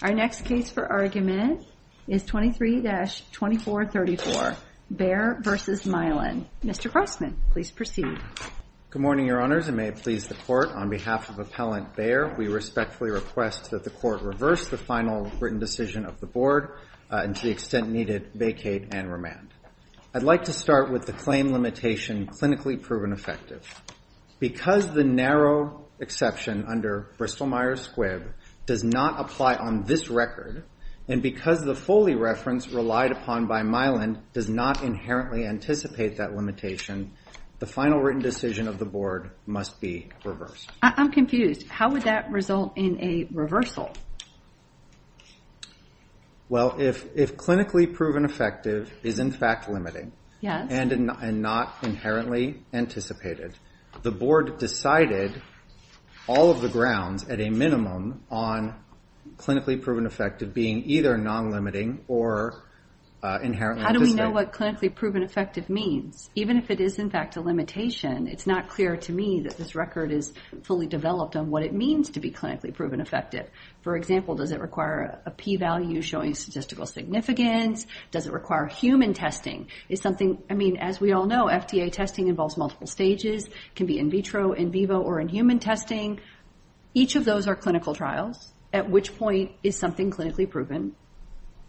Our next case for argument is 23-2434, Bayer v. Mylan. Mr. Crossman, please proceed. Good morning, your honors, and may it please the court, on behalf of Appellant Bayer, we respectfully request that the court reverse the final written decision of the board, and to the extent needed, vacate and remand. I'd like to start with the claim limitation, clinically proven effective. Because the narrow exception under Bristol-Myers Squibb does not apply on this record, and because the Foley reference relied upon by Mylan does not inherently anticipate that limitation, the final written decision of the board must be reversed. I'm confused. How would that result in a reversal? Well, if clinically proven effective is in fact limiting, and not inherently anticipated, the board decided all of the grounds, at a minimum, on clinically proven effective being either non-limiting or inherently anticipated. How do we know what clinically proven effective means? Even if it is in fact a limitation, it's not clear to me that this record is fully developed on what it means to be clinically proven effective. For example, does it require a p-value showing statistical significance? Does it require human testing? Is something, I mean, as we all know, FDA testing involves multiple stages, can be in vitro, in vivo, or in human testing. Each of those are clinical trials, at which point is something clinically proven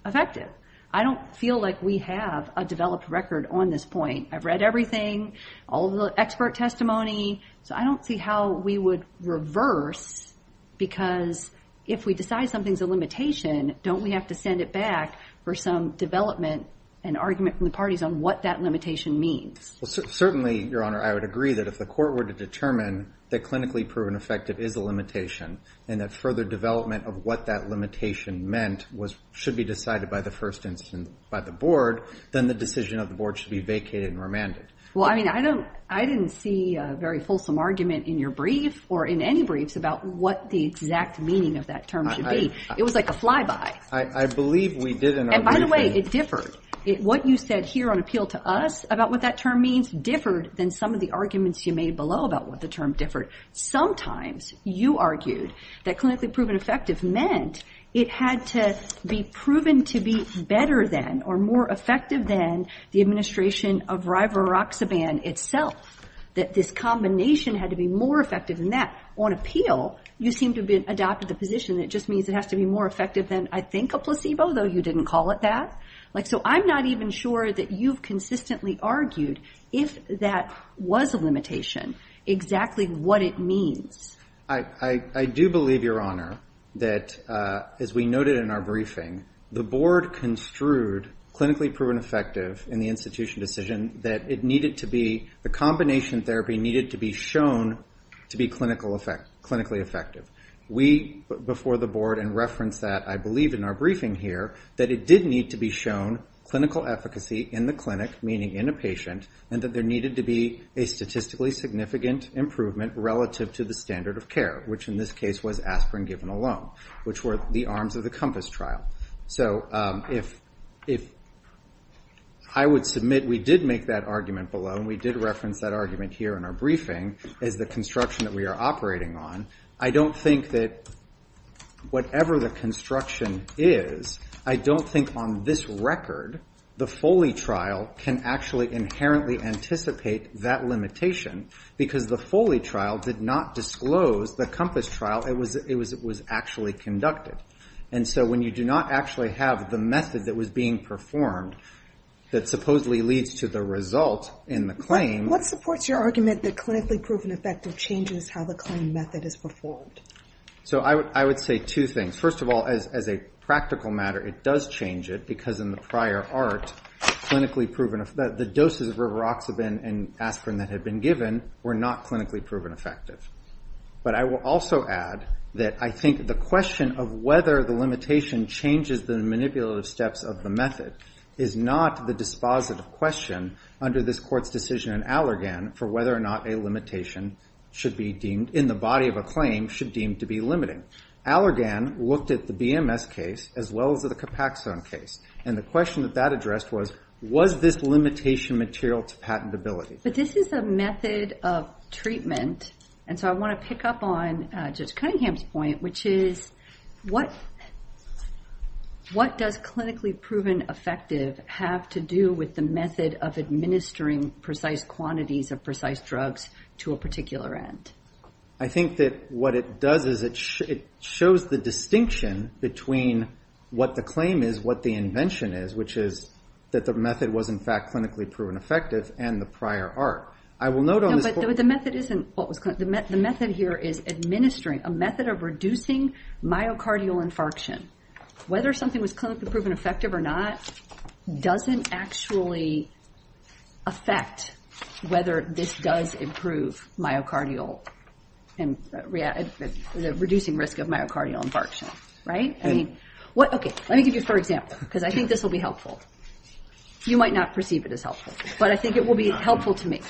effective? I don't feel like we have a developed record on this point. I've read everything, all of the expert testimony, so I don't see how we would reverse, because if we decide something's a limitation, don't we have to send it back for some development and argument from the parties on what that limitation means? Certainly, Your Honor, I would agree that if the court were to determine that clinically proven effective is a limitation, and that further development of what that limitation meant should be decided by the first instance by the board, then the decision of the board should be vacated and remanded. Well, I mean, I didn't see a very fulsome argument in your brief, or in any briefs, about what the exact meaning of that term should be. It was like a flyby. I believe we did in our briefing. And by the way, it differed. What you said here on appeal to us about what that term means differed than some of the arguments you made below about what the term differed. Sometimes, you argued that clinically proven effective meant it had to be proven to be better than, or more effective than, the administration of rivaroxaban itself, that this combination had to be more effective than that. On appeal, you seem to have adopted the position that it just means it has to be more effective than, I think, a placebo, though you didn't call it that. Like, so I'm not even sure that you've consistently argued if that was a limitation, exactly what it means. I do believe, Your Honor, that, as we noted in our briefing, the board construed clinically proven effective in the institution decision that it needed to be, the combination therapy needed to be shown to be clinically effective. We, before the board, and referenced that, I believe in our briefing here, that it did need to be shown clinical efficacy in the clinic, meaning in a patient, and that there needed to be a statistically significant improvement relative to the standard of care, which in this case was aspirin given alone, which were the arms of the COMPASS trial. So, if I would submit we did make that argument below, and we did reference that argument here in our briefing, as the construction that we are operating on, I don't think that whatever the construction is, I don't think on this record, the Foley trial can actually inherently anticipate that limitation, because the Foley trial did not disclose the COMPASS trial, it was actually conducted. And so, when you do not actually have the method that was being performed, that supposedly leads to the result in the claim. What supports your argument that clinically proven effective changes how the claim method is performed? So, I would say two things. First of all, as a practical matter, it does change it, because in the prior art, clinically proven, the doses of rivaroxaban and aspirin that had been given were not clinically proven effective. But I will also add that I think the question of whether the limitation changes the manipulative steps of the method is not the dispositive question under this court's decision in Allergan for whether or not a limitation should be deemed, in the body of a claim, should be deemed to be limiting. Allergan looked at the BMS case, as well as the Copaxone case. And the question that that addressed was, was this limitation material to patentability? But this is a method of treatment, and so I want to pick up on Judge Cunningham's point, which is, what does clinically proven effective have to do with the method of administering precise quantities of precise drugs to a particular end? I think that what it does is it shows the distinction between what the claim is, what the invention is, which is that the method was, in fact, clinically proven effective, and the prior art. I will note on this court- No, but the method isn't what was, the method here is administering, a method of reducing myocardial infarction. Whether something was clinically proven effective or not doesn't actually affect whether this does improve myocardial, the reducing risk of myocardial infarction. I mean, what, okay, let me give you a third example, because I think this will be helpful. You might not perceive it as helpful, but I think it will be helpful to me.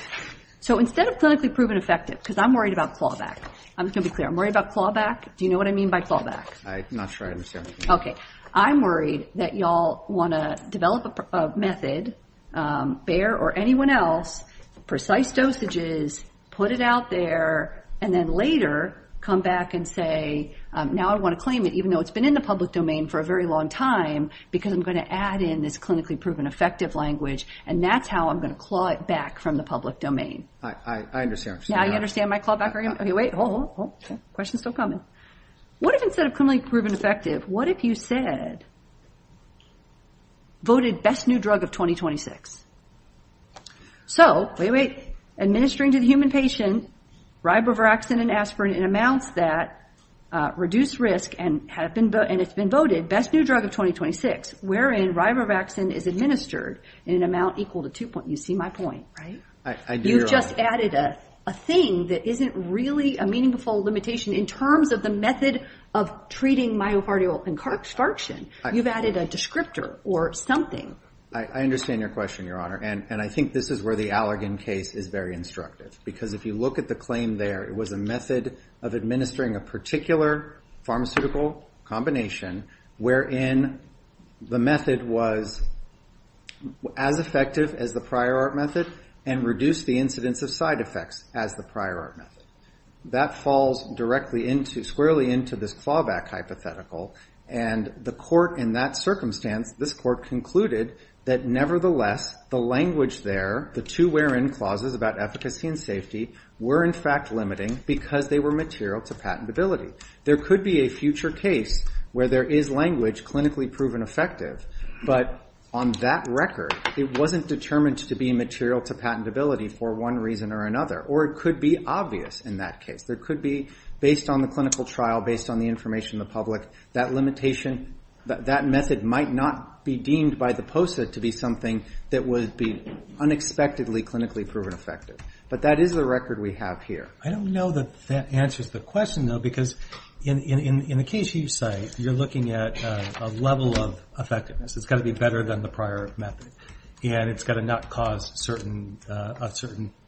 So instead of clinically proven effective, because I'm worried about clawback, I'm just going to be clear, I'm worried about clawback, do you know what I mean by clawback? I'm not sure I understand. Okay, I'm worried that y'all want to develop a method, Bayer or anyone else, precise dosages, put it out there, and then later come back and say, now I want to claim it, even though it's been in the public domain for a very long time, because I'm going to add in this clinically proven effective language, and that's how I'm going to claw it back from the public domain. I understand. Now you understand my clawback argument? Okay, wait, hold on, hold on. Question's still coming. What if instead of clinically proven effective, what if you said, voted best new drug of 2026? So, wait, wait, administering to the human patient, ribaviraxin and aspirin in amounts that reduce risk, and it's been voted best new drug of 2026, wherein ribaviraxin is administered in an amount equal to two point, you see my point, right? I do, Your Honor. You've just added a thing that isn't really a meaningful limitation in terms of the method of treating myocardial infarction. You've added a descriptor or something. I understand your question, Your Honor, and I think this is where the Allergan case is very instructive, because if you look at the claim there, it was a method of administering a particular pharmaceutical combination wherein the method was as effective as the prior art method and reduced the incidence of side effects as the prior art method. That falls directly into, squarely into this clawback hypothetical, and the court in that circumstance, this court concluded that nevertheless, the language there, the two wherein clauses about efficacy and safety were in fact limiting because they were material to patentability. There could be a future case where there is language clinically proven effective, but on that record, it wasn't determined to be material to patentability for one reason or another, or it could be obvious in that case. There could be, based on the clinical trial, based on the information of the public, that limitation, that method might not be deemed by the POSA to be something that would be unexpectedly clinically proven effective, but that is the record we have here. I don't know that that answers the question, though, because in the case you cite, you're looking at a level of effectiveness. It's got to be better than the prior method, and it's got to not cause a certain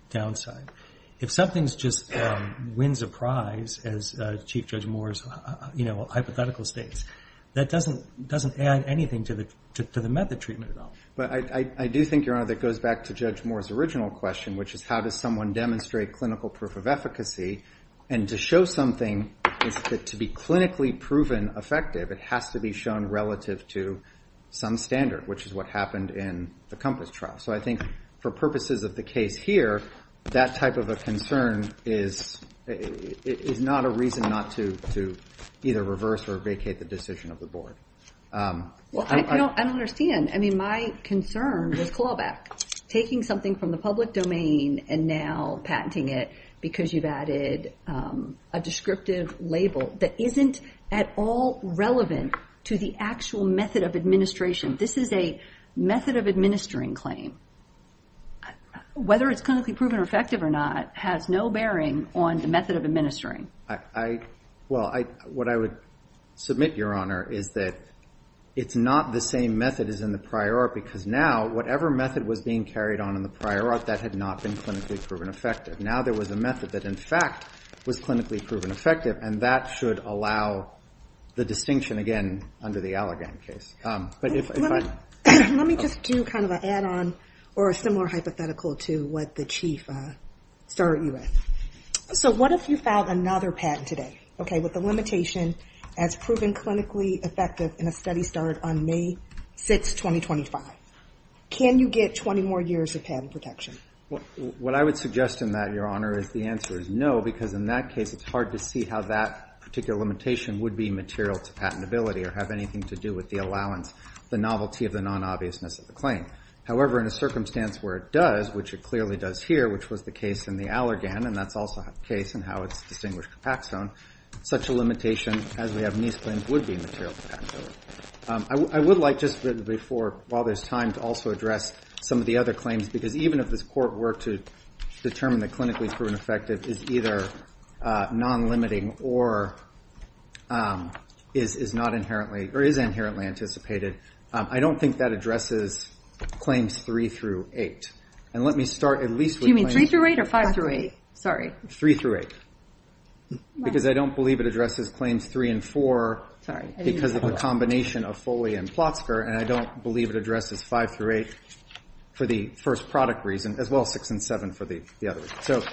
downside. If something just wins a prize, as Chief Judge Moore's hypothetical states, that doesn't add anything to the method treatment at all. But I do think, Your Honor, that goes back to Judge Moore's original question, which is how does someone demonstrate clinical proof of efficacy, and to show something is to be clinically proven effective. It has to be shown relative to some standard, which is what happened in the COMPASS trial. So I think for purposes of the case here, that type of a concern is not a reason not to either reverse or vacate the decision of the board. I don't understand. I mean, my concern was clawback. Taking something from the public domain and now patenting it because you've added a descriptive label that isn't at all relevant to the actual method of administration. This is a method of administering claim. Whether it's clinically proven effective or not has no bearing on the method of administering. Well, what I would submit, Your Honor, is that it's not the same method as in the prior art because now, whatever method was being carried on in the prior art, that had not been clinically proven effective. Now there was a method that in fact was clinically proven effective, and that should allow the distinction again under the Allergan case. But if I... Let me just do kind of an add-on or a similar hypothetical to what the Chief started you with. So what if you filed another patent today, okay, with the limitation as proven clinically effective in a study started on May 6, 2025? Can you get 20 more years of patent protection? What I would suggest in that, Your Honor, is the answer is no, because in that case, it's hard to see how that particular limitation would be material to patentability or have anything to do with the allowance, the novelty of the non-obviousness of the claim. However, in a circumstance where it does, which it clearly does here, which was the case in the Allergan, and that's also the case in how it's distinguished compact zone, such a limitation as we have in these claims would be material to patentability. I would like just before, while there's time to also address some of the other claims, because even if this court were to determine that clinically proven effective is either non-limiting or is not inherently, or is inherently anticipated, I don't think that addresses claims three through eight. And let me start at least with claims... Sorry. Three through eight. Because I don't believe it addresses claims three and four because of the combination of Foley and Plotzker, and I don't believe it addresses five through eight for the first product reason, as well as six and seven for the other.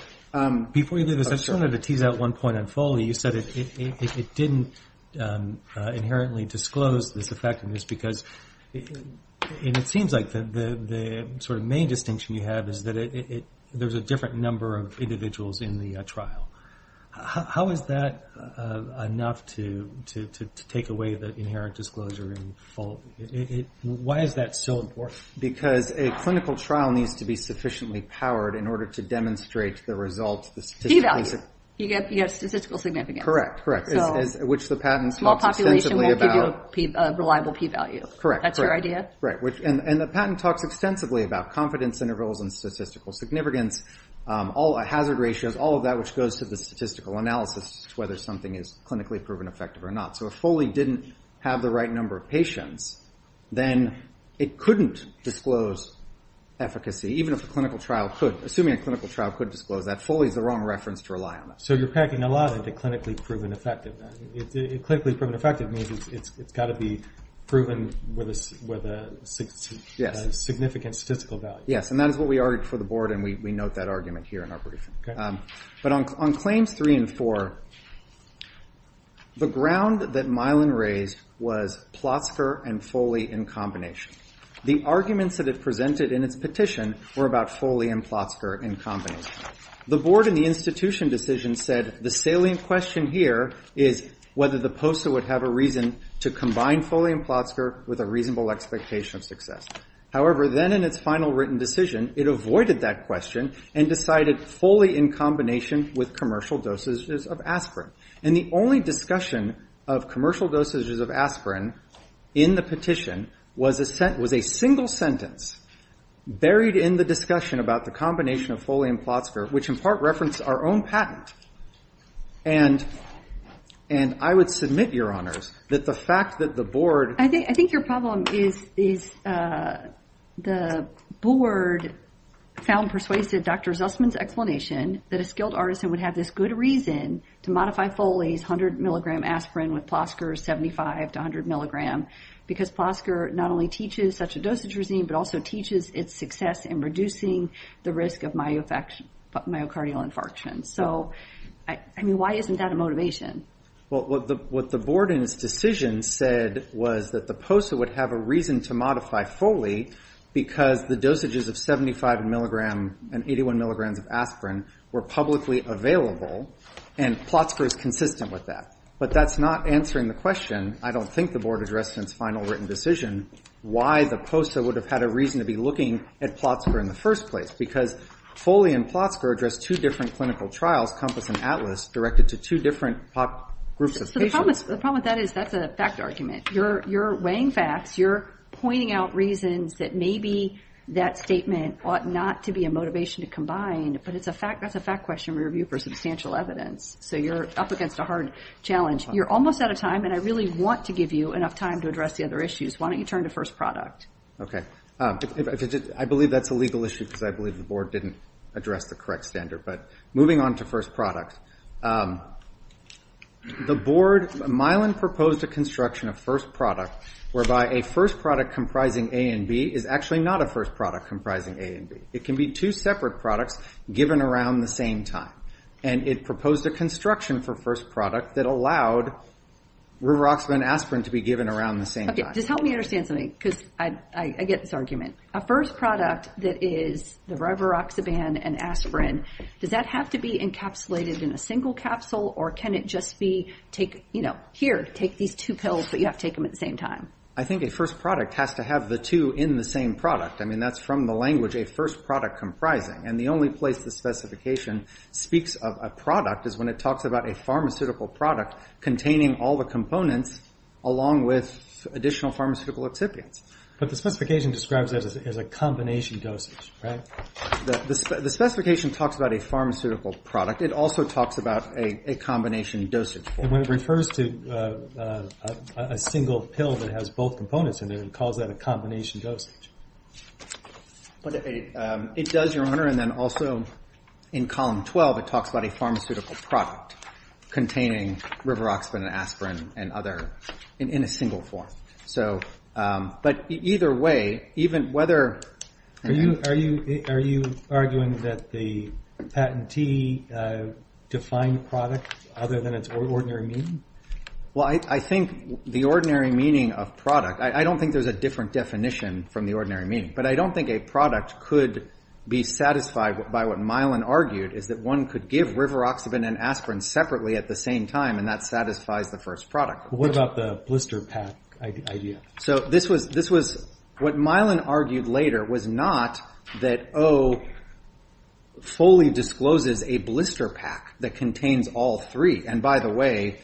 Before you do this, I just wanted to tease out one point on Foley. You said it didn't inherently disclose this effectiveness because, and it seems like the main distinction you have is that there's a different number of individuals in the trial. How is that enough to take away the inherent disclosure in Foley? Why is that so important? Because a clinical trial needs to be sufficiently powered in order to demonstrate the results, the statistics. P-value. You get statistical significance. Correct, correct. Which the patent talks extensively about. Small population won't give you a reliable P-value. Correct, correct. That's your idea? And the patent talks extensively about confidence intervals and statistical significance, all hazard ratios, all of that, which goes to the statistical analysis as to whether something is clinically proven effective or not. So if Foley didn't have the right number of patients, then it couldn't disclose efficacy, even if a clinical trial could. Assuming a clinical trial could disclose that, Foley's the wrong reference to rely on. So you're packing a lot into clinically proven effective. Clinically proven effective means it's gotta be proven with a significant statistical value. Yes, and that is what we argued for the board, and we note that argument here in our briefing. But on claims three and four, the ground that Milan raised was Plotzker and Foley in combination. The arguments that it presented in its petition were about Foley and Plotzker in combination. The board in the institution decision said the salient question here is whether the POSA would have a reason to combine Foley and Plotzker with a reasonable expectation of success. However, then in its final written decision, it avoided that question and decided Foley in combination with commercial dosages of aspirin. And the only discussion of commercial dosages of aspirin in the petition was a single sentence buried in the discussion about the combination of Foley and Plotzker, which in part referenced our own patent. And I would submit, Your Honors, that the fact that the board- I think your problem is the board found persuasive Dr. Zussman's explanation that a skilled artisan would have this good reason to modify Foley's 100 milligram aspirin with Plotzker's 75 to 100 milligram because Plotzker not only teaches such a dosage regime, but also teaches its success in reducing the risk of myocardial infarction. So, I mean, why isn't that a motivation? Well, what the board in its decision said was that the POSA would have a reason to modify Foley because the dosages of 75 milligram and 81 milligrams of aspirin were publicly available and Plotzker is consistent with that. But that's not answering the question, I don't think the board addressed in its final written decision, why the POSA would have had a reason to be looking at Plotzker in the first place because Foley and Plotzker addressed two different clinical trials, COMPASS and ATLAS, directed to two different groups of patients. The problem with that is that's a fact argument. You're weighing facts, you're pointing out reasons that maybe that statement ought not to be a motivation to combine, but that's a fact question we review for substantial evidence. So you're up against a hard challenge. You're almost out of time and I really want to give you enough time to address the other issues. Why don't you turn to first product? Okay, I believe that's a legal issue because I believe the board didn't address the correct standard. But moving on to first product. The board, Mylan proposed a construction of first product whereby a first product comprising A and B is actually not a first product comprising A and B. It can be two separate products given around the same time. And it proposed a construction for first product that allowed rivaroxaban aspirin to be given around the same time. Okay, just help me understand something because I get this argument. A first product that is the rivaroxaban and aspirin, does that have to be encapsulated in a single capsule or can it just be take, you know, here, take these two pills but you have to take them at the same time? I think a first product has to have the two in the same product. I mean, that's from the language a first product comprising. And the only place the specification speaks of a product is when it talks about a pharmaceutical product containing all the components along with additional pharmaceutical excipients. But the specification describes it as a combination dosage, right? The specification talks about a pharmaceutical product. It also talks about a combination dosage. And when it refers to a single pill that has both components in it, it calls that a combination dosage. But it does, Your Honor. And then also in column 12, it talks about a pharmaceutical product containing rivaroxaban aspirin and other in a single form. So, but either way, even whether... Are you arguing that the patentee defined product other than its ordinary meaning? Well, I think the ordinary meaning of product, I don't think there's a different definition from the ordinary meaning. But I don't think a product could be satisfied by what Mylan argued is that one could give rivaroxaban and aspirin separately at the same time and that satisfies the first product. What about the blister pack idea? So this was what Mylan argued later was not that O fully discloses a blister pack that contains all three. And by the way,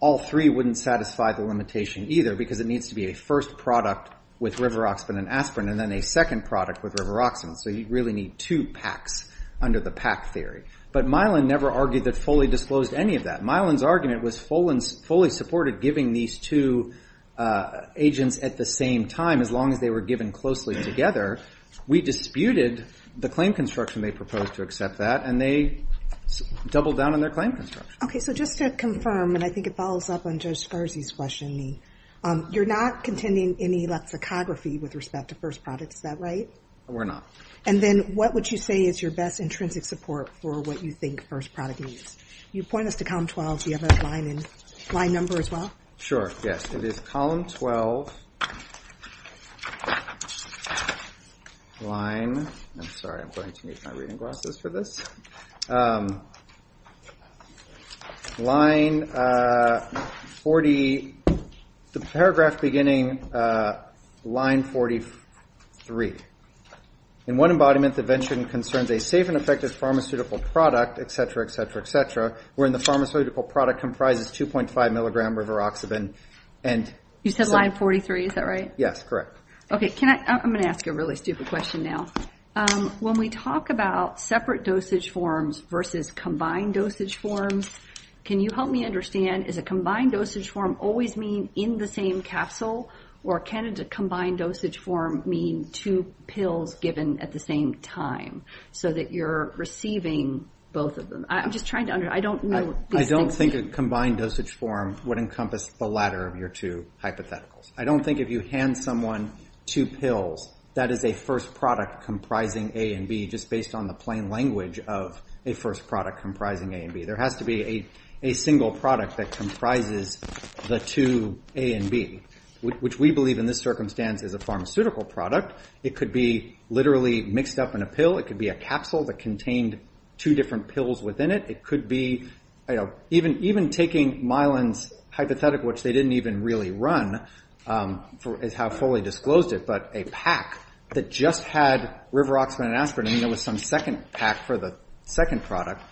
all three wouldn't satisfy the limitation either because it needs to be a first product with rivaroxaban and aspirin and then a second product with rivaroxaban. So you really need two packs under the pack theory. But Mylan never argued that fully disclosed any of that. Mylan's argument was fully supported by giving these two agents at the same time as long as they were given closely together. We disputed the claim construction they proposed to accept that and they doubled down on their claim construction. Okay, so just to confirm and I think it follows up on Judge Scarzi's questioning. You're not contending any lexicography with respect to first product, is that right? We're not. And then what would you say is your best intrinsic support for what you think first product means? You point us to column 12, do you have a line number as well? Sure, yes. It is column 12. Line, I'm sorry, I'm going to need my reading glasses for this. Line 40, the paragraph beginning line 43. In one embodiment, the venture concerns a safe and effective pharmaceutical product, et cetera, et cetera, et cetera. Wherein the pharmaceutical product comprises 2.5 milligram rivaroxaban and- You said line 43, is that right? Yes, correct. Okay, I'm going to ask you a really stupid question now. When we talk about separate dosage forms versus combined dosage forms, can you help me understand, is a combined dosage form always mean in the same capsule or can a combined dosage form mean two pills given at the same time? So that you're receiving both of them. I'm just trying to understand, I don't know- I don't think a combined dosage form would encompass the latter of your two hypotheticals. I don't think if you hand someone two pills, that is a first product comprising A and B just based on the plain language of a first product comprising A and B. There has to be a single product that comprises the two A and B, which we believe in this circumstance is a pharmaceutical product. It could be literally mixed up in a pill, it could be a capsule that contained two different pills within it. It could be, even taking Mylan's hypothetical, which they didn't even really run, is how fully disclosed it, but a pack that just had Riveroxman and Aspirin and there was some second pack for the second product.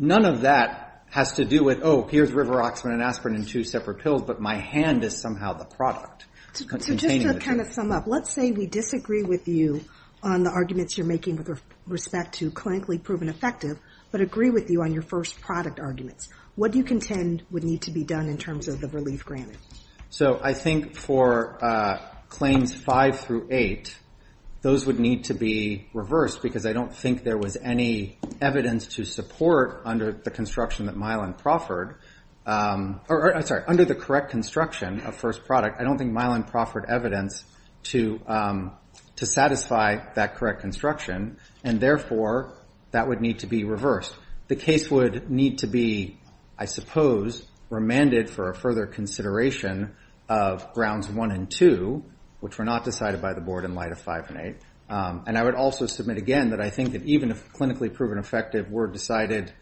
None of that has to do with, oh, here's Riveroxman and Aspirin in two separate pills, but my hand is somehow the product. So just to kind of sum up, let's say we disagree with you on the arguments you're making with respect to clinically proven effective, but agree with you on your first product arguments. What do you contend would need to be done in terms of the relief granted? So I think for claims five through eight, those would need to be reversed because I don't think there was any evidence to support under the construction that Mylan proffered, or I'm sorry, under the correct construction of first product, I don't think Mylan proffered evidence to satisfy that correct construction, and therefore that would need to be reversed. The case would need to be, I suppose, remanded for a further consideration of grounds one and two, which were not decided by the board in light of five and eight and I would also submit again that I think that even if clinically proven effective were decided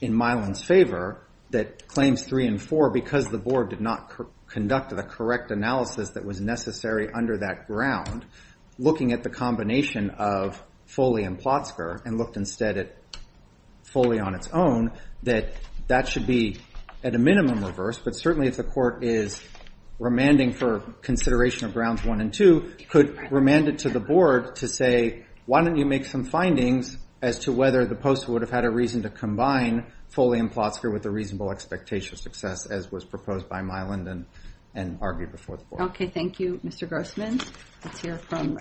in Mylan's favor, that claims three and four, because the board did not conduct the correct analysis that was necessary under that ground, looking at the combination of Foley and Plotzker and looked instead at Foley on its own, that that should be at a minimum reversed, but certainly if the court is remanding for consideration of grounds one and two, could remand it to the board to say, why don't you make some findings as to whether the postal would have had a reason to combine Foley and Plotzker with a reasonable expectation of success as was proposed by Mylan and argued before the board. Okay, thank you, Mr. Grossman. Let's hear from,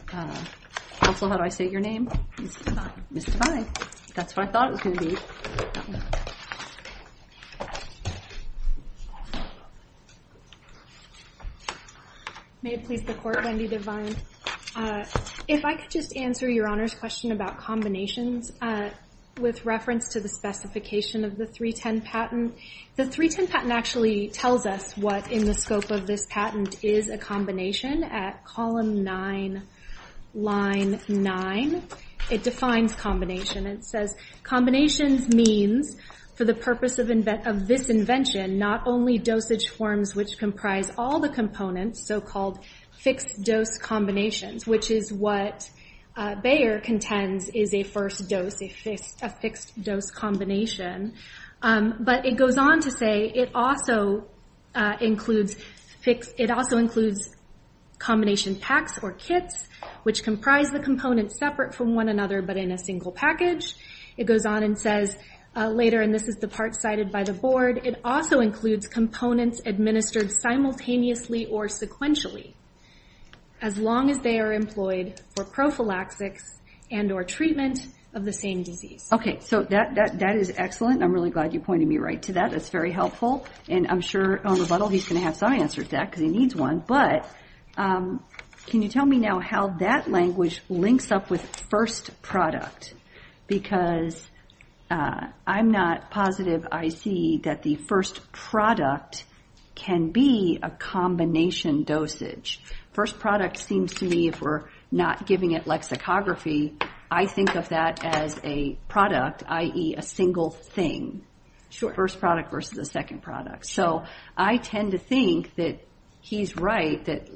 also how do I say your name? Ms. Devine. Ms. Devine, that's what I thought it was gonna be. May it please the court, Wendy Devine. If I could just answer your honor's question about combinations with reference to the specification of the 310 patent. The 310 patent actually tells us what in the scope of this patent is a combination at column nine, line nine. It defines combination. It says, combinations means, for the purpose of this invention, not only dosage forms which comprise all the components, so called fixed dose combinations, which is what Bayer contends is a first dose, a fixed dose combination. But it goes on to say it also includes combination packs or kits which comprise the components separate from one another but in a single package. It goes on and says later, and this is the part cited by the board, it also includes components administered simultaneously or sequentially as long as they are employed for prophylaxis and or treatment of the same disease. Okay, so that is excellent. I'm really glad you pointed me right to that. That's very helpful. And I'm sure on rebuttal, he's gonna have some answer to that because he needs one. But can you tell me now how that language links up with first product? Because I'm not positive I see that the first product can be a combination dosage. First product seems to me, if we're not giving it lexicography, I think of that as a product, i.e. a single thing. Sure. First product versus a second product. So I tend to think that he's right that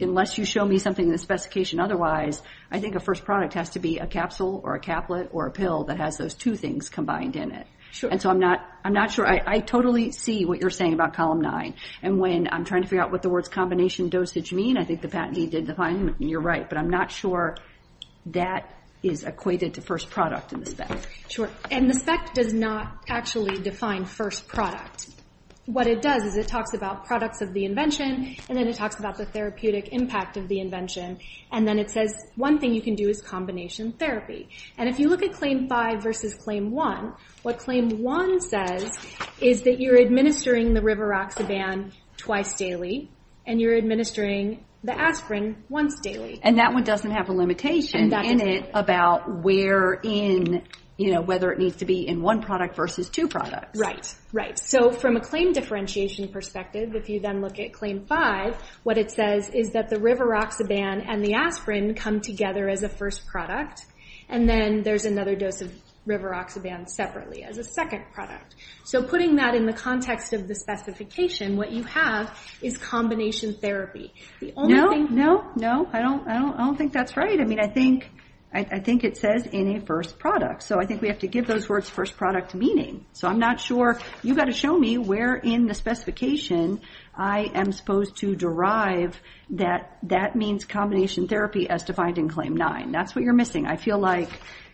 unless you show me something in the specification otherwise, I think a first product has to be a capsule or a caplet or a pill that has those two things combined in it. Sure. And so I'm not sure. I totally see what you're saying about column nine. And when I'm trying to figure out what the words combination dosage mean, I think the patented did define, you're right. But I'm not sure that is equated to first product in the spec. And the spec does not actually define first product. What it does is it talks about products of the invention and then it talks about the therapeutic impact of the invention. And then it says one thing you can do is combination therapy. And if you look at claim five versus claim one, what claim one says is that you're administering the rivaroxaban twice daily and you're administering the aspirin once daily. And that one doesn't have a limitation in it about whether it needs to be in one product versus two products. Right, right. So from a claim differentiation perspective, if you then look at claim five, what it says is that the rivaroxaban and the aspirin come together as a first product. And then there's another dose of rivaroxaban separately as a second product. So putting that in the context of the specification, what you have is combination therapy. The only thing- No, no, no, I don't think that's right. I mean, I think it says in a first product. So I think we have to give those words first product meaning. So I'm not sure, you've got to show me where in the specification I am supposed to derive that that means combination therapy as defined in claim nine. That's what you're missing. I feel like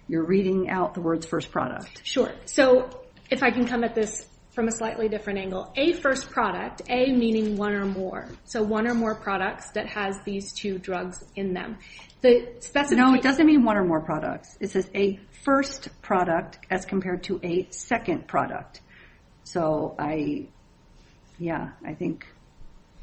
you're reading out the words first product. Sure, so if I can come at this from a slightly different angle. A first product, A meaning one or more. So one or more products that has these two drugs in them. The specification- No, it doesn't mean one or more products. It says a first product as compared to a second product. So I, yeah, I think,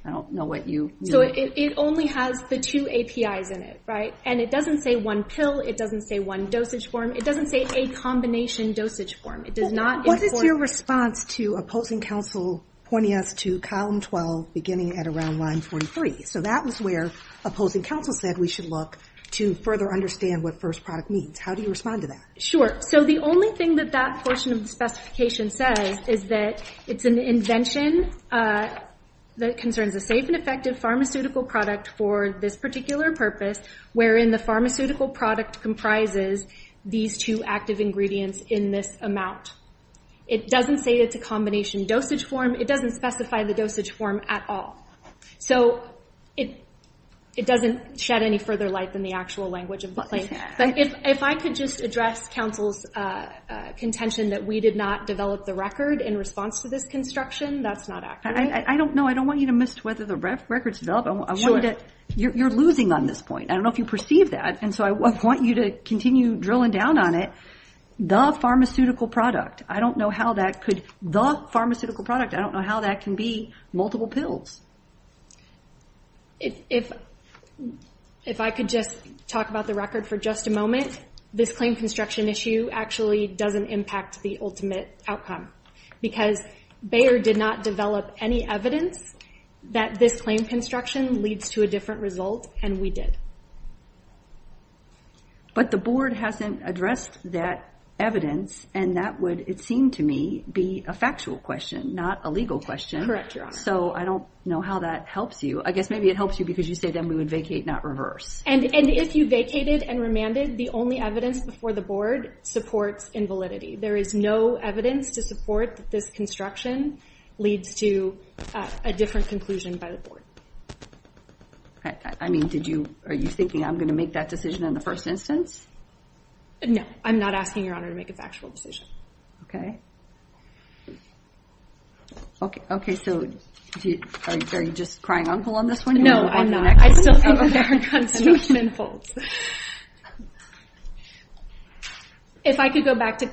I don't know what you- So it only has the two APIs in it, right? And it doesn't say one pill. It doesn't say one dosage form. It doesn't say a combination dosage form. It does not- What is your response to opposing counsel pointing us to column 12 beginning at around line 43? So that was where opposing counsel said we should look to further understand what first product means. How do you respond to that? Sure, so the only thing that that portion of the specification says is that it's an invention that concerns a safe and effective pharmaceutical product for this particular purpose, wherein the pharmaceutical product comprises these two active ingredients in this amount. It doesn't say it's a combination dosage form. It doesn't specify the dosage form at all. So it doesn't shed any further light than the actual language of the claim. But if I could just address counsel's contention that we did not develop the record in response to this construction, that's not accurate. I don't know. I don't want you to miss whether the record's developed. I wanted to- You're losing on this point. I don't know if you perceive that. And so I want you to continue drilling down on it. The pharmaceutical product. I don't know how that could, the pharmaceutical product. I don't know how that can be multiple pills. If I could just talk about the record for just a moment, this claim construction issue actually doesn't impact the ultimate outcome. Because Bayer did not develop any evidence that this claim construction leads to a different result, and we did. But the board hasn't addressed that evidence, and that would, it seemed to me, be a factual question, not a legal question. So I don't know how that helps you. I guess maybe it helps you because you say then we would vacate, not reverse. And if you vacated and remanded, the only evidence before the board supports invalidity. There is no evidence to support that this construction leads to a different conclusion by the board. I mean, did you, are you thinking I'm gonna make that decision in the first instance? No, I'm not asking Your Honor to make a factual decision. Okay. Okay, so are you just crying uncle on this one? No, I'm not. I still think that there are constant open folds. If I could go back to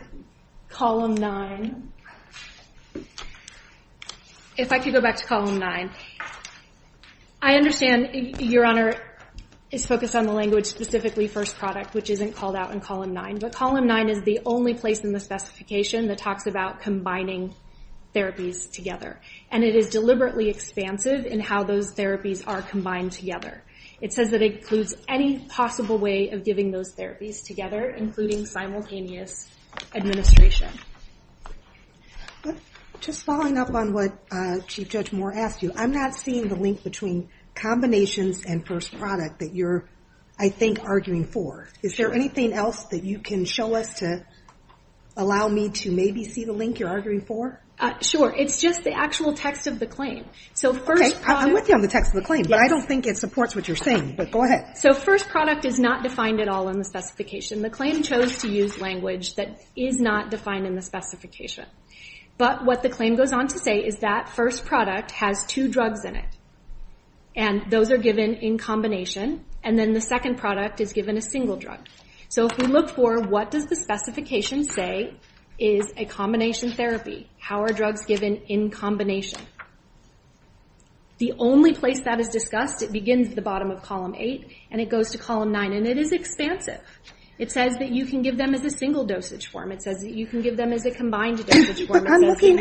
column nine. If I could go back to column nine. I understand Your Honor is focused on the language specifically first product, which isn't called out in column nine. But column nine is the only place in the specification that talks about combining therapies together. And it is deliberately expansive in how those therapies are combined together. It says that it includes any possible way of giving those therapies together, including simultaneous administration. Just following up on what Chief Judge Moore asked you, I'm not seeing the link between combinations and first product that you're, I think, arguing for. Is there anything else that you can show us to allow me to maybe see the link you're arguing for? Sure, it's just the actual text of the claim. So first product. Okay, I'm with you on the text of the claim. But I don't think it supports what you're saying. But go ahead. So first product is not defined at all in the specification. The claim chose to use language that is not defined in the specification. But what the claim goes on to say is that first product has two drugs in it. And those are given in combination. And then the second product is given a single drug. So if we look for what does the specification say is a combination therapy? How are drugs given in combination? The only place that is discussed, it begins at the bottom of column eight, and it goes to column nine. And it is expansive. It says that you can give them as a single dosage form. It says that you can give them as a combined dosage form. But I'm looking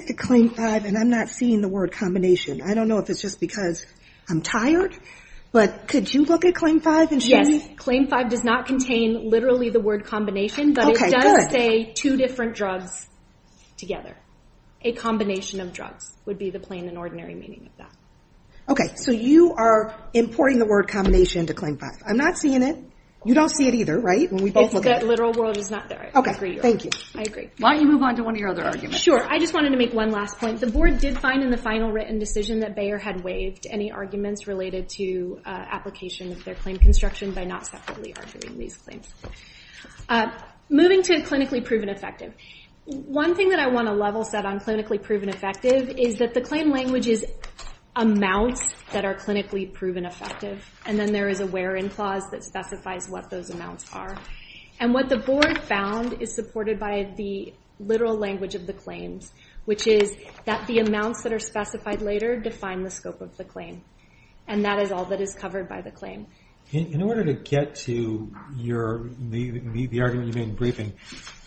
at claim five, and I'm not seeing the word combination. I don't know if it's just because I'm tired. But could you look at claim five and show me? Yes, claim five does not contain literally the word combination, but it does say two different drugs together. A combination of drugs would be the plain and ordinary meaning of that. Okay, so you are importing the word combination to claim five. I'm not seeing it. You don't see it either, right? When we both look at it. It's that literal world is not there. Okay, thank you. I agree. Why don't you move on to one of your other arguments? Sure, I just wanted to make one last point. The board did find in the final written decision that Bayer had waived any arguments related to application of their claim construction by not separately arguing these claims. Moving to clinically proven effective. One thing that I want to level set on clinically proven effective is that the claim language is amounts that are clinically proven effective. And then there is a where in clause that specifies what those amounts are. And what the board found is supported by the literal language of the claims, which is that the amounts that are specified later define the scope of the claim. And that is all that is covered by the claim. In order to get to the argument you made in briefing,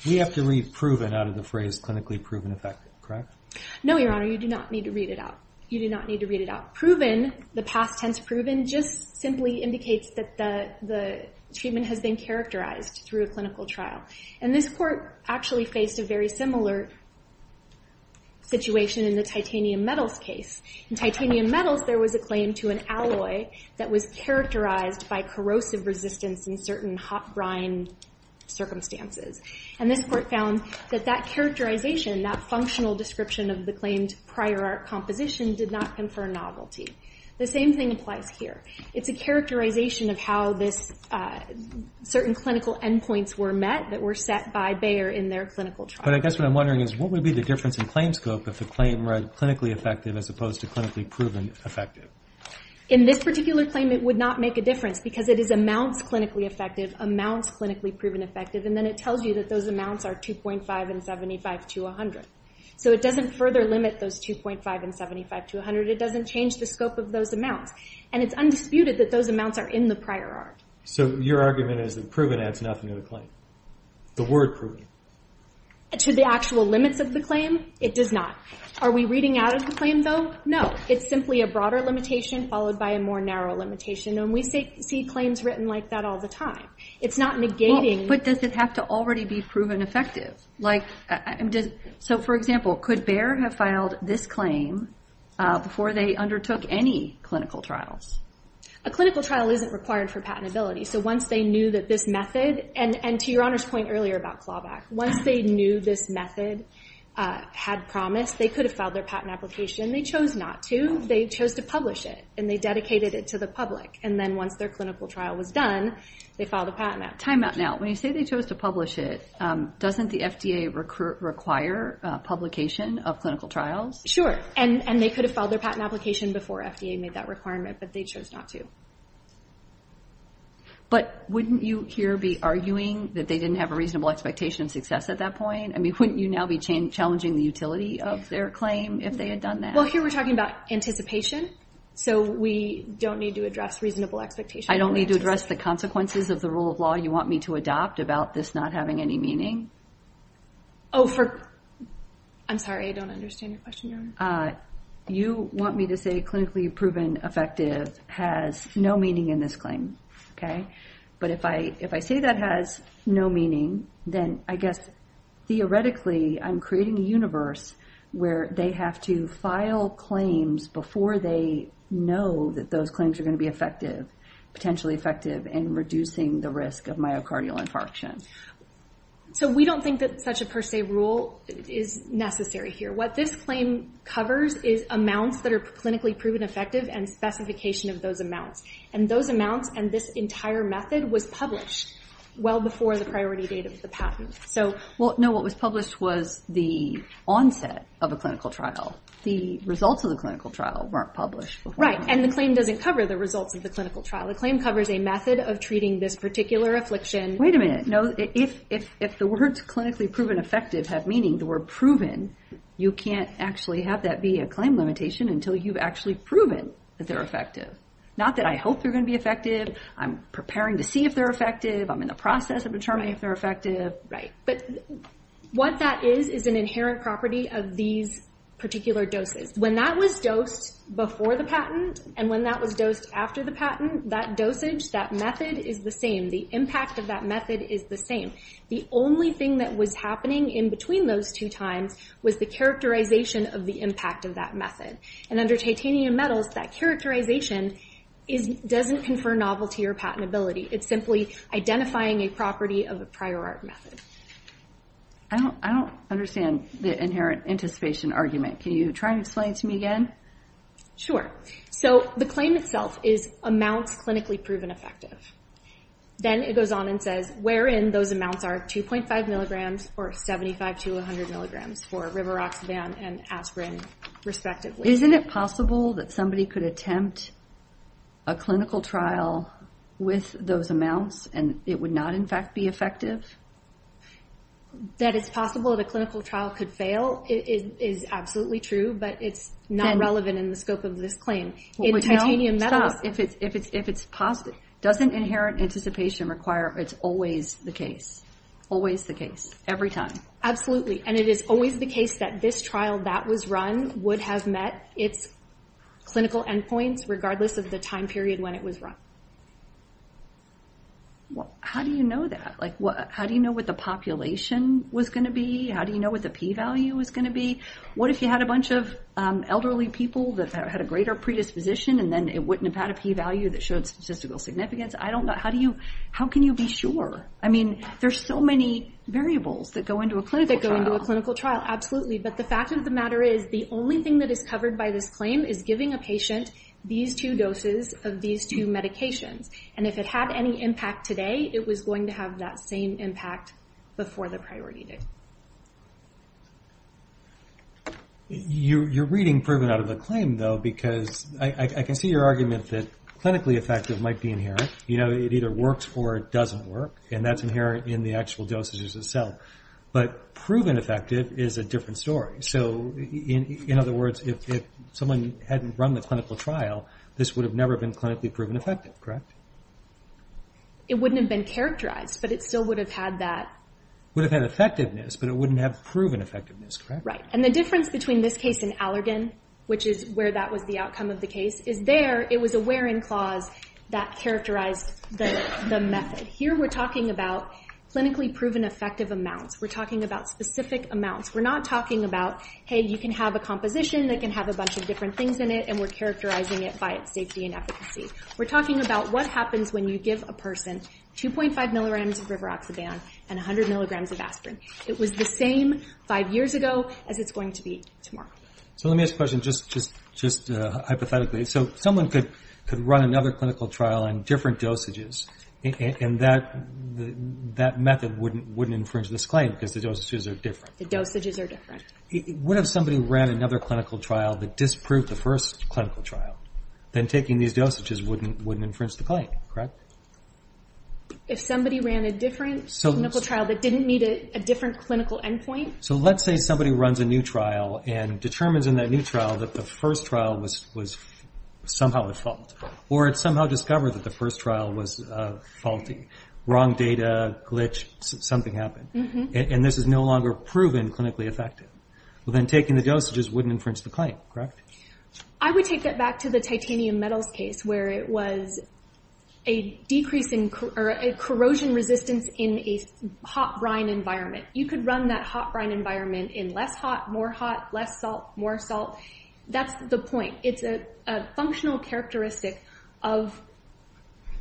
we have to read proven out of the phrase clinically proven effective, correct? No, your honor, you do not need to read it out. You do not need to read it out. Proven, the past tense proven, just simply indicates that the treatment has been characterized through a clinical trial. And this court actually faced a very similar situation in the titanium metals case. In titanium metals, there was a claim to an alloy that was characterized by corrosive resistance in certain hot brine circumstances. And this court found that that characterization, that functional description of the claimed prior art composition did not confer novelty. The same thing applies here. It's a characterization of how this, certain clinical endpoints were met that were set by Bayer in their clinical trial. But I guess what I'm wondering is what would be the difference in claim scope if the claim read clinically effective as opposed to clinically proven effective? In this particular claim, it would not make a difference because it is amounts clinically effective, amounts clinically proven effective. And then it tells you that those amounts are 2.5 and 75 to 100. So it doesn't further limit those 2.5 and 75 to 100. It doesn't change the scope of those amounts. And it's undisputed that those amounts are in the prior art. So your argument is that proven adds nothing to the claim. The word proven. To the actual limits of the claim, it does not. Are we reading out of the claim though? No, it's simply a broader limitation followed by a more narrow limitation. And we see claims written like that all the time. It's not negating. But does it have to already be proven effective? Like, so for example, could Bayer have filed this claim before they undertook any clinical trials? A clinical trial isn't required for patentability. So once they knew that this method, and to your Honor's point earlier about Clawback, once they knew this method had promise, they could have filed their patent application. They chose not to. They chose to publish it. And they dedicated it to the public. And then once their clinical trial was done, they filed a patent out. Time out now. When you say they chose to publish it, doesn't the FDA require publication of clinical trials? Sure. And they could have filed their patent application before FDA made that requirement. But they chose not to. But wouldn't you here be arguing that they didn't have a reasonable expectation of success at that point? I mean, wouldn't you now be challenging the utility of their claim if they had done that? Well, here we're talking about anticipation. So we don't need to address reasonable expectation. I don't need to address the consequences of the rule of law you want me to adopt about this not having any meaning? Oh, for... I'm sorry, I don't understand your question, Your Honor. You want me to say clinically proven effective has no meaning in this claim, okay? But if I say that has no meaning, then I guess theoretically I'm creating a universe where they have to file claims before they know that those claims are gonna be effective, potentially effective in reducing the risk of myocardial infarction. So we don't think that such a per se rule is necessary here. What this claim covers is amounts that are clinically proven effective and specification of those amounts. And those amounts and this entire method was published well before the priority date of the patent. So... Well, no, what was published was the onset of a clinical trial. The results of the clinical trial weren't published. Right, and the claim doesn't cover the results of the clinical trial. The claim covers a method of treating this particular affliction. Wait a minute. No, if the words clinically proven effective have meaning, the word proven, you can't actually have that be a claim limitation until you've actually proven that they're effective. Not that I hope they're gonna be effective. I'm preparing to see if they're effective. I'm in the process of determining if they're effective. Right, but what that is, is an inherent property of these particular doses. When that was dosed before the patent and when that was dosed after the patent, that dosage, that method is the same. The impact of that method is the same. The only thing that was happening in between those two times was the characterization of the impact of that method. And under titanium metals, that characterization doesn't confer novelty or patentability. It's simply identifying a property of a prior art method. I don't understand the inherent anticipation argument. Can you try and explain it to me again? Sure, so the claim itself is amounts clinically proven effective. Then it goes on and says, where in those amounts are 2.5 milligrams or 75 to 100 milligrams for rivaroxaban and aspirin, respectively. Isn't it possible that somebody could attempt a clinical trial with those amounts and it would not, in fact, be effective? That it's possible that a clinical trial could fail is absolutely true, but it's not relevant in the scope of this claim. In titanium metals. If it's positive, doesn't inherent anticipation require it's always the case? Always the case, every time? Absolutely, and it is always the case that this trial that was run would have met it's clinical endpoints regardless of the time period when it was run. How do you know that? How do you know what the population was gonna be? How do you know what the p-value was gonna be? What if you had a bunch of elderly people that had a greater predisposition and then it wouldn't have had a p-value that showed statistical significance? I don't know. How can you be sure? I mean, there's so many variables that go into a clinical trial. Absolutely, but the fact of the matter is the only thing that is covered by this claim is giving a patient these two doses of these two medications. And if it had any impact today, it was going to have that same impact before the priority date. You're reading proven out of the claim, though, because I can see your argument that clinically effective might be inherent. You know, it either works or it doesn't work, and that's inherent in the actual dosages itself. But proven effective is a different story. So, in other words, if someone hadn't run the clinical trial, this would have never been clinically proven effective, correct? It wouldn't have been characterized, but it still would have had that. Would have had effectiveness, but it wouldn't have proven effectiveness, correct? Right, and the difference between this case and Allergan, which is where that was the outcome of the case, is there it was a where-in clause that characterized the method. Here, we're talking about clinically proven effective amounts. We're talking about specific amounts. We're not talking about, hey, you can have a composition that can have a bunch of different things in it, and we're characterizing it by its safety and efficacy. We're talking about what happens when you give a person 2.5 milligrams of rivaroxaban and 100 milligrams of aspirin. It was the same five years ago as it's going to be tomorrow. So let me ask a question just hypothetically. So someone could run another clinical trial on different dosages, and that method wouldn't infringe this claim because the dosages are different. The dosages are different. What if somebody ran another clinical trial that disproved the first clinical trial? Then taking these dosages wouldn't infringe the claim, correct? If somebody ran a different clinical trial that didn't meet a different clinical endpoint? So let's say somebody runs a new trial and determines in that new trial that the first trial was somehow at fault, or it somehow discovered that the first trial was faulty, wrong data, glitch, something happened, and this is no longer proven clinically effective. Well, then taking the dosages wouldn't infringe the claim, correct? I would take that back to the titanium metals case where it was a corrosion resistance in a hot brine environment. You could run that hot brine environment in less hot, more hot, less salt, more salt. That's the point. It's a functional characteristic of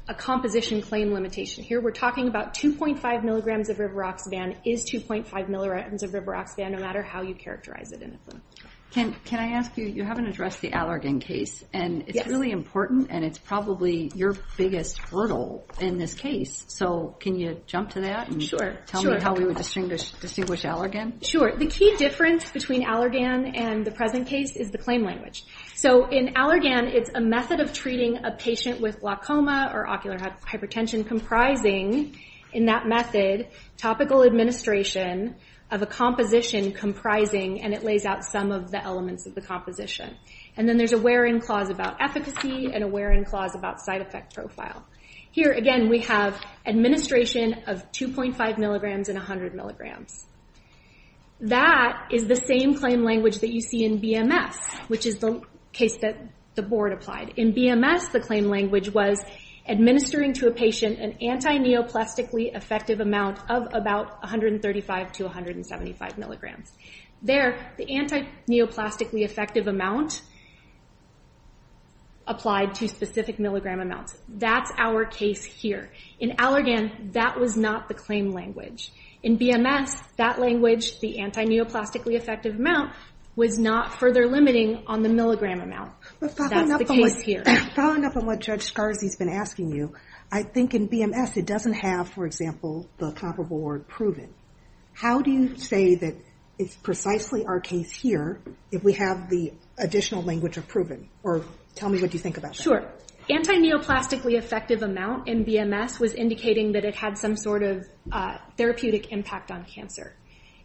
a composition claim limitation. Here we're talking about 2.5 milligrams of rivaroxaban is 2.5 milligrams of rivaroxaban no matter how you characterize it in the film. Can I ask you, you haven't addressed the Allergan case, and it's really important, and it's probably your biggest hurdle in this case. So can you jump to that and tell me how we would distinguish Allergan? Sure, the key difference between Allergan and the present case is the claim language. So in Allergan, it's a method of treating a patient with glaucoma or ocular hypertension comprising in that method topical administration of a composition comprising, and it lays out some of the elements of the composition. And then there's a wear-in clause about efficacy and a wear-in clause about side effect profile. Here again, we have administration of 2.5 milligrams and 100 milligrams. That is the same claim language that you see in BMS, which is the case that the board applied. In BMS, the claim language was administering to a patient an antineoplastically effective amount of about 135 to 175 milligrams. There, the antineoplastically effective amount applied to specific milligram amounts. That's our case here. In Allergan, that was not the claim language. In BMS, that language, the antineoplastically effective amount was not further limiting on the milligram amount. That's the case here. Following up on what Judge Scarzi's been asking you, I think in BMS, it doesn't have, for example, the comparable word proven. How do you say that it's precisely our case here if we have the additional language of proven? Or tell me what you think about that. Sure. Antineoplastically effective amount in BMS was indicating that it had some sort of therapeutic impact on cancer.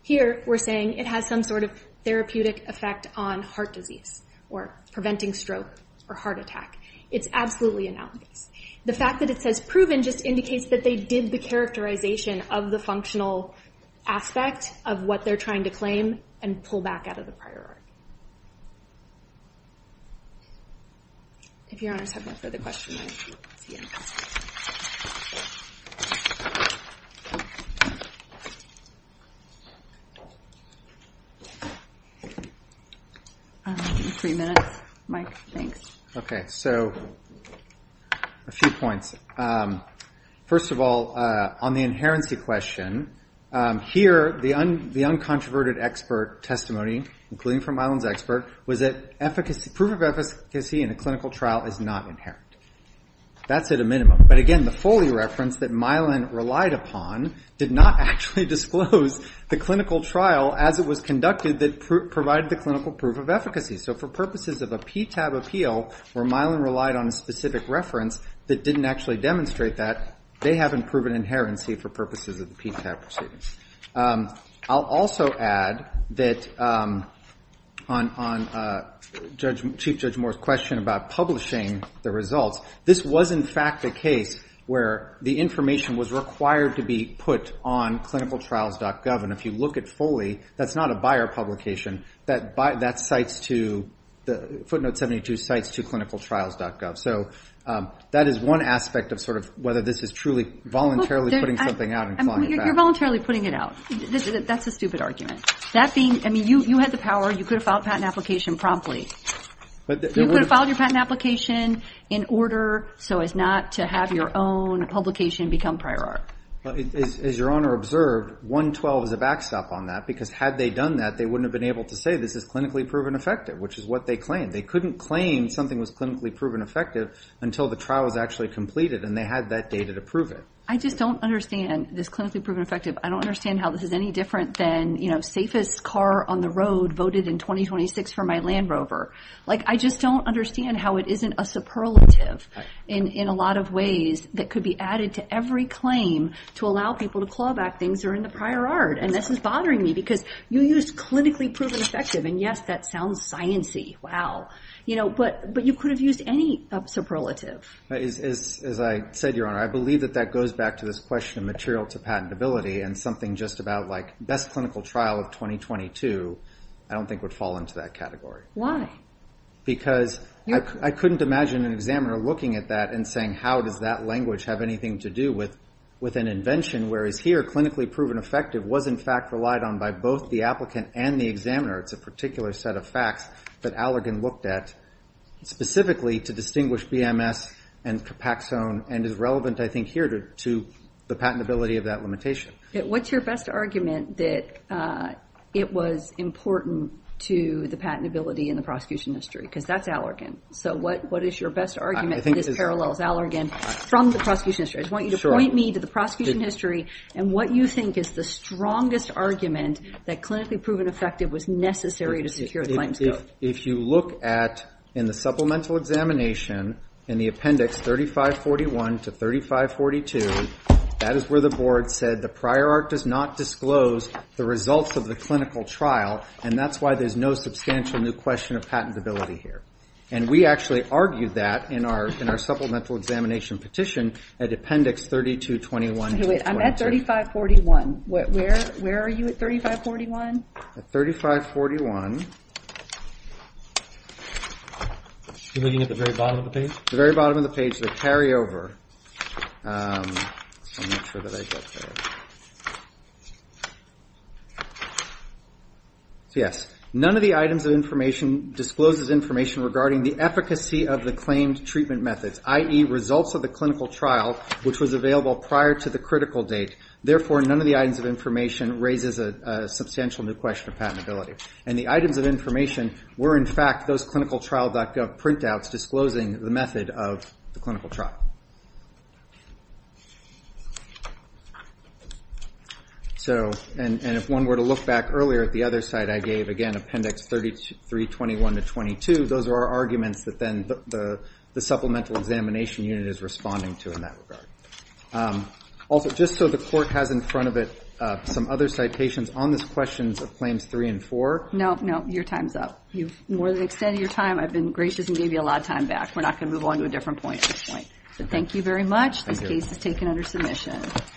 Here, we're saying it has some sort of therapeutic effect on heart disease or preventing stroke or heart attack. It's absolutely analogous. The fact that it says proven just indicates that they did the characterization of the functional aspect of what they're trying to claim and pull back out of the priority. If your honors have no further questions, I see you. Okay. Three minutes. Mike, thanks. Okay, so a few points. First of all, on the inherency question, here, the uncontroverted expert testimony, including from Mylan's expert, was that proof of efficacy in a clinical trial is not inherent. That's at a minimum. But again, the Foley reference that Mylan relied upon did not actually disclose the clinical trial as it was conducted that provided the clinical proof of efficacy. So for purposes of a PTAB appeal, where Mylan relied on a specific reference that didn't actually demonstrate that, they haven't proven inherency for purposes of the PTAB proceedings. I'll also add that on Chief Judge Moore's question about publishing the results, this was, in fact, a case where the information was required to be put on clinicaltrials.gov. And if you look at Foley, that's not a buyer publication. That footnote 72 cites to clinicaltrials.gov. So that is one aspect of sort of whether this is truly voluntarily putting something out and clawing it back. You're voluntarily putting it out. That's a stupid argument. That being, I mean, you had the power. You could have filed a patent application promptly. You could have filed your patent application in order so as not to have your own publication become prior art. As Your Honor observed, 112 is a backstop on that because had they done that, they wouldn't have been able to say this is clinically proven effective, which is what they claimed. They couldn't claim something was clinically proven effective until the trial was actually completed and they had that data to prove it. I just don't understand this clinically proven effective. I don't understand how this is any different than safest car on the road voted in 2026 for my Land Rover. Like, I just don't understand how it isn't a superlative in a lot of ways that could be added to every claim to allow people to claw back things that are in the prior art and this is bothering me because you used clinically proven effective and yes, that sounds science-y, wow. You know, but you could have used any superlative. As I said, Your Honor, I believe that that goes back to this question of material to patentability and something just about like best clinical trial of 2022 I don't think would fall into that category. Why? Because I couldn't imagine an examiner looking at that and saying how does that language have anything to do with an invention whereas here clinically proven effective was in fact relied on by both the applicant and the examiner. It's a particular set of facts that Allergan looked at specifically to distinguish BMS and Capaxone and is relevant I think here to the patentability of that limitation. Yeah, what's your best argument that it was important to the patentability in the prosecution history? Because that's Allergan. So what is your best argument that this parallels Allergan from the prosecution history? I just want you to point me to the prosecution history and what you think is the strongest argument that clinically proven effective was necessary to secure the claims. If you look at in the supplemental examination in the appendix 3541 to 3542, that is where the board said the prior art does not disclose the results of the clinical trial and that's why there's no substantial new question of patentability here. And we actually argued that in our supplemental examination petition at appendix 3221 to 3222. I'm at 3541. Where are you at 3541? At 3541. You're looking at the very bottom of the page? The very bottom of the page, the carryover. Yes, none of the items of information discloses information regarding the efficacy of the claimed treatment methods, i.e. results of the clinical trial which was available prior to the critical date. Therefore, none of the items of information raises a substantial new question of patentability. And the items of information were in fact those clinicaltrial.gov printouts disclosing the method of the clinical trial. So, and if one were to look back earlier at the other side, I gave, again, appendix 321 to 3222. Those are arguments that then the supplemental examination unit is responding to in that regard. Also, just so the court has in front of it some other citations on this questions of claims three and four. No, no, your time's up. You've more than extended your time. I've been gracious and gave you a lot of time back. We're not gonna move on to a different point at this point. So, thank you very much. This case is taken under submission.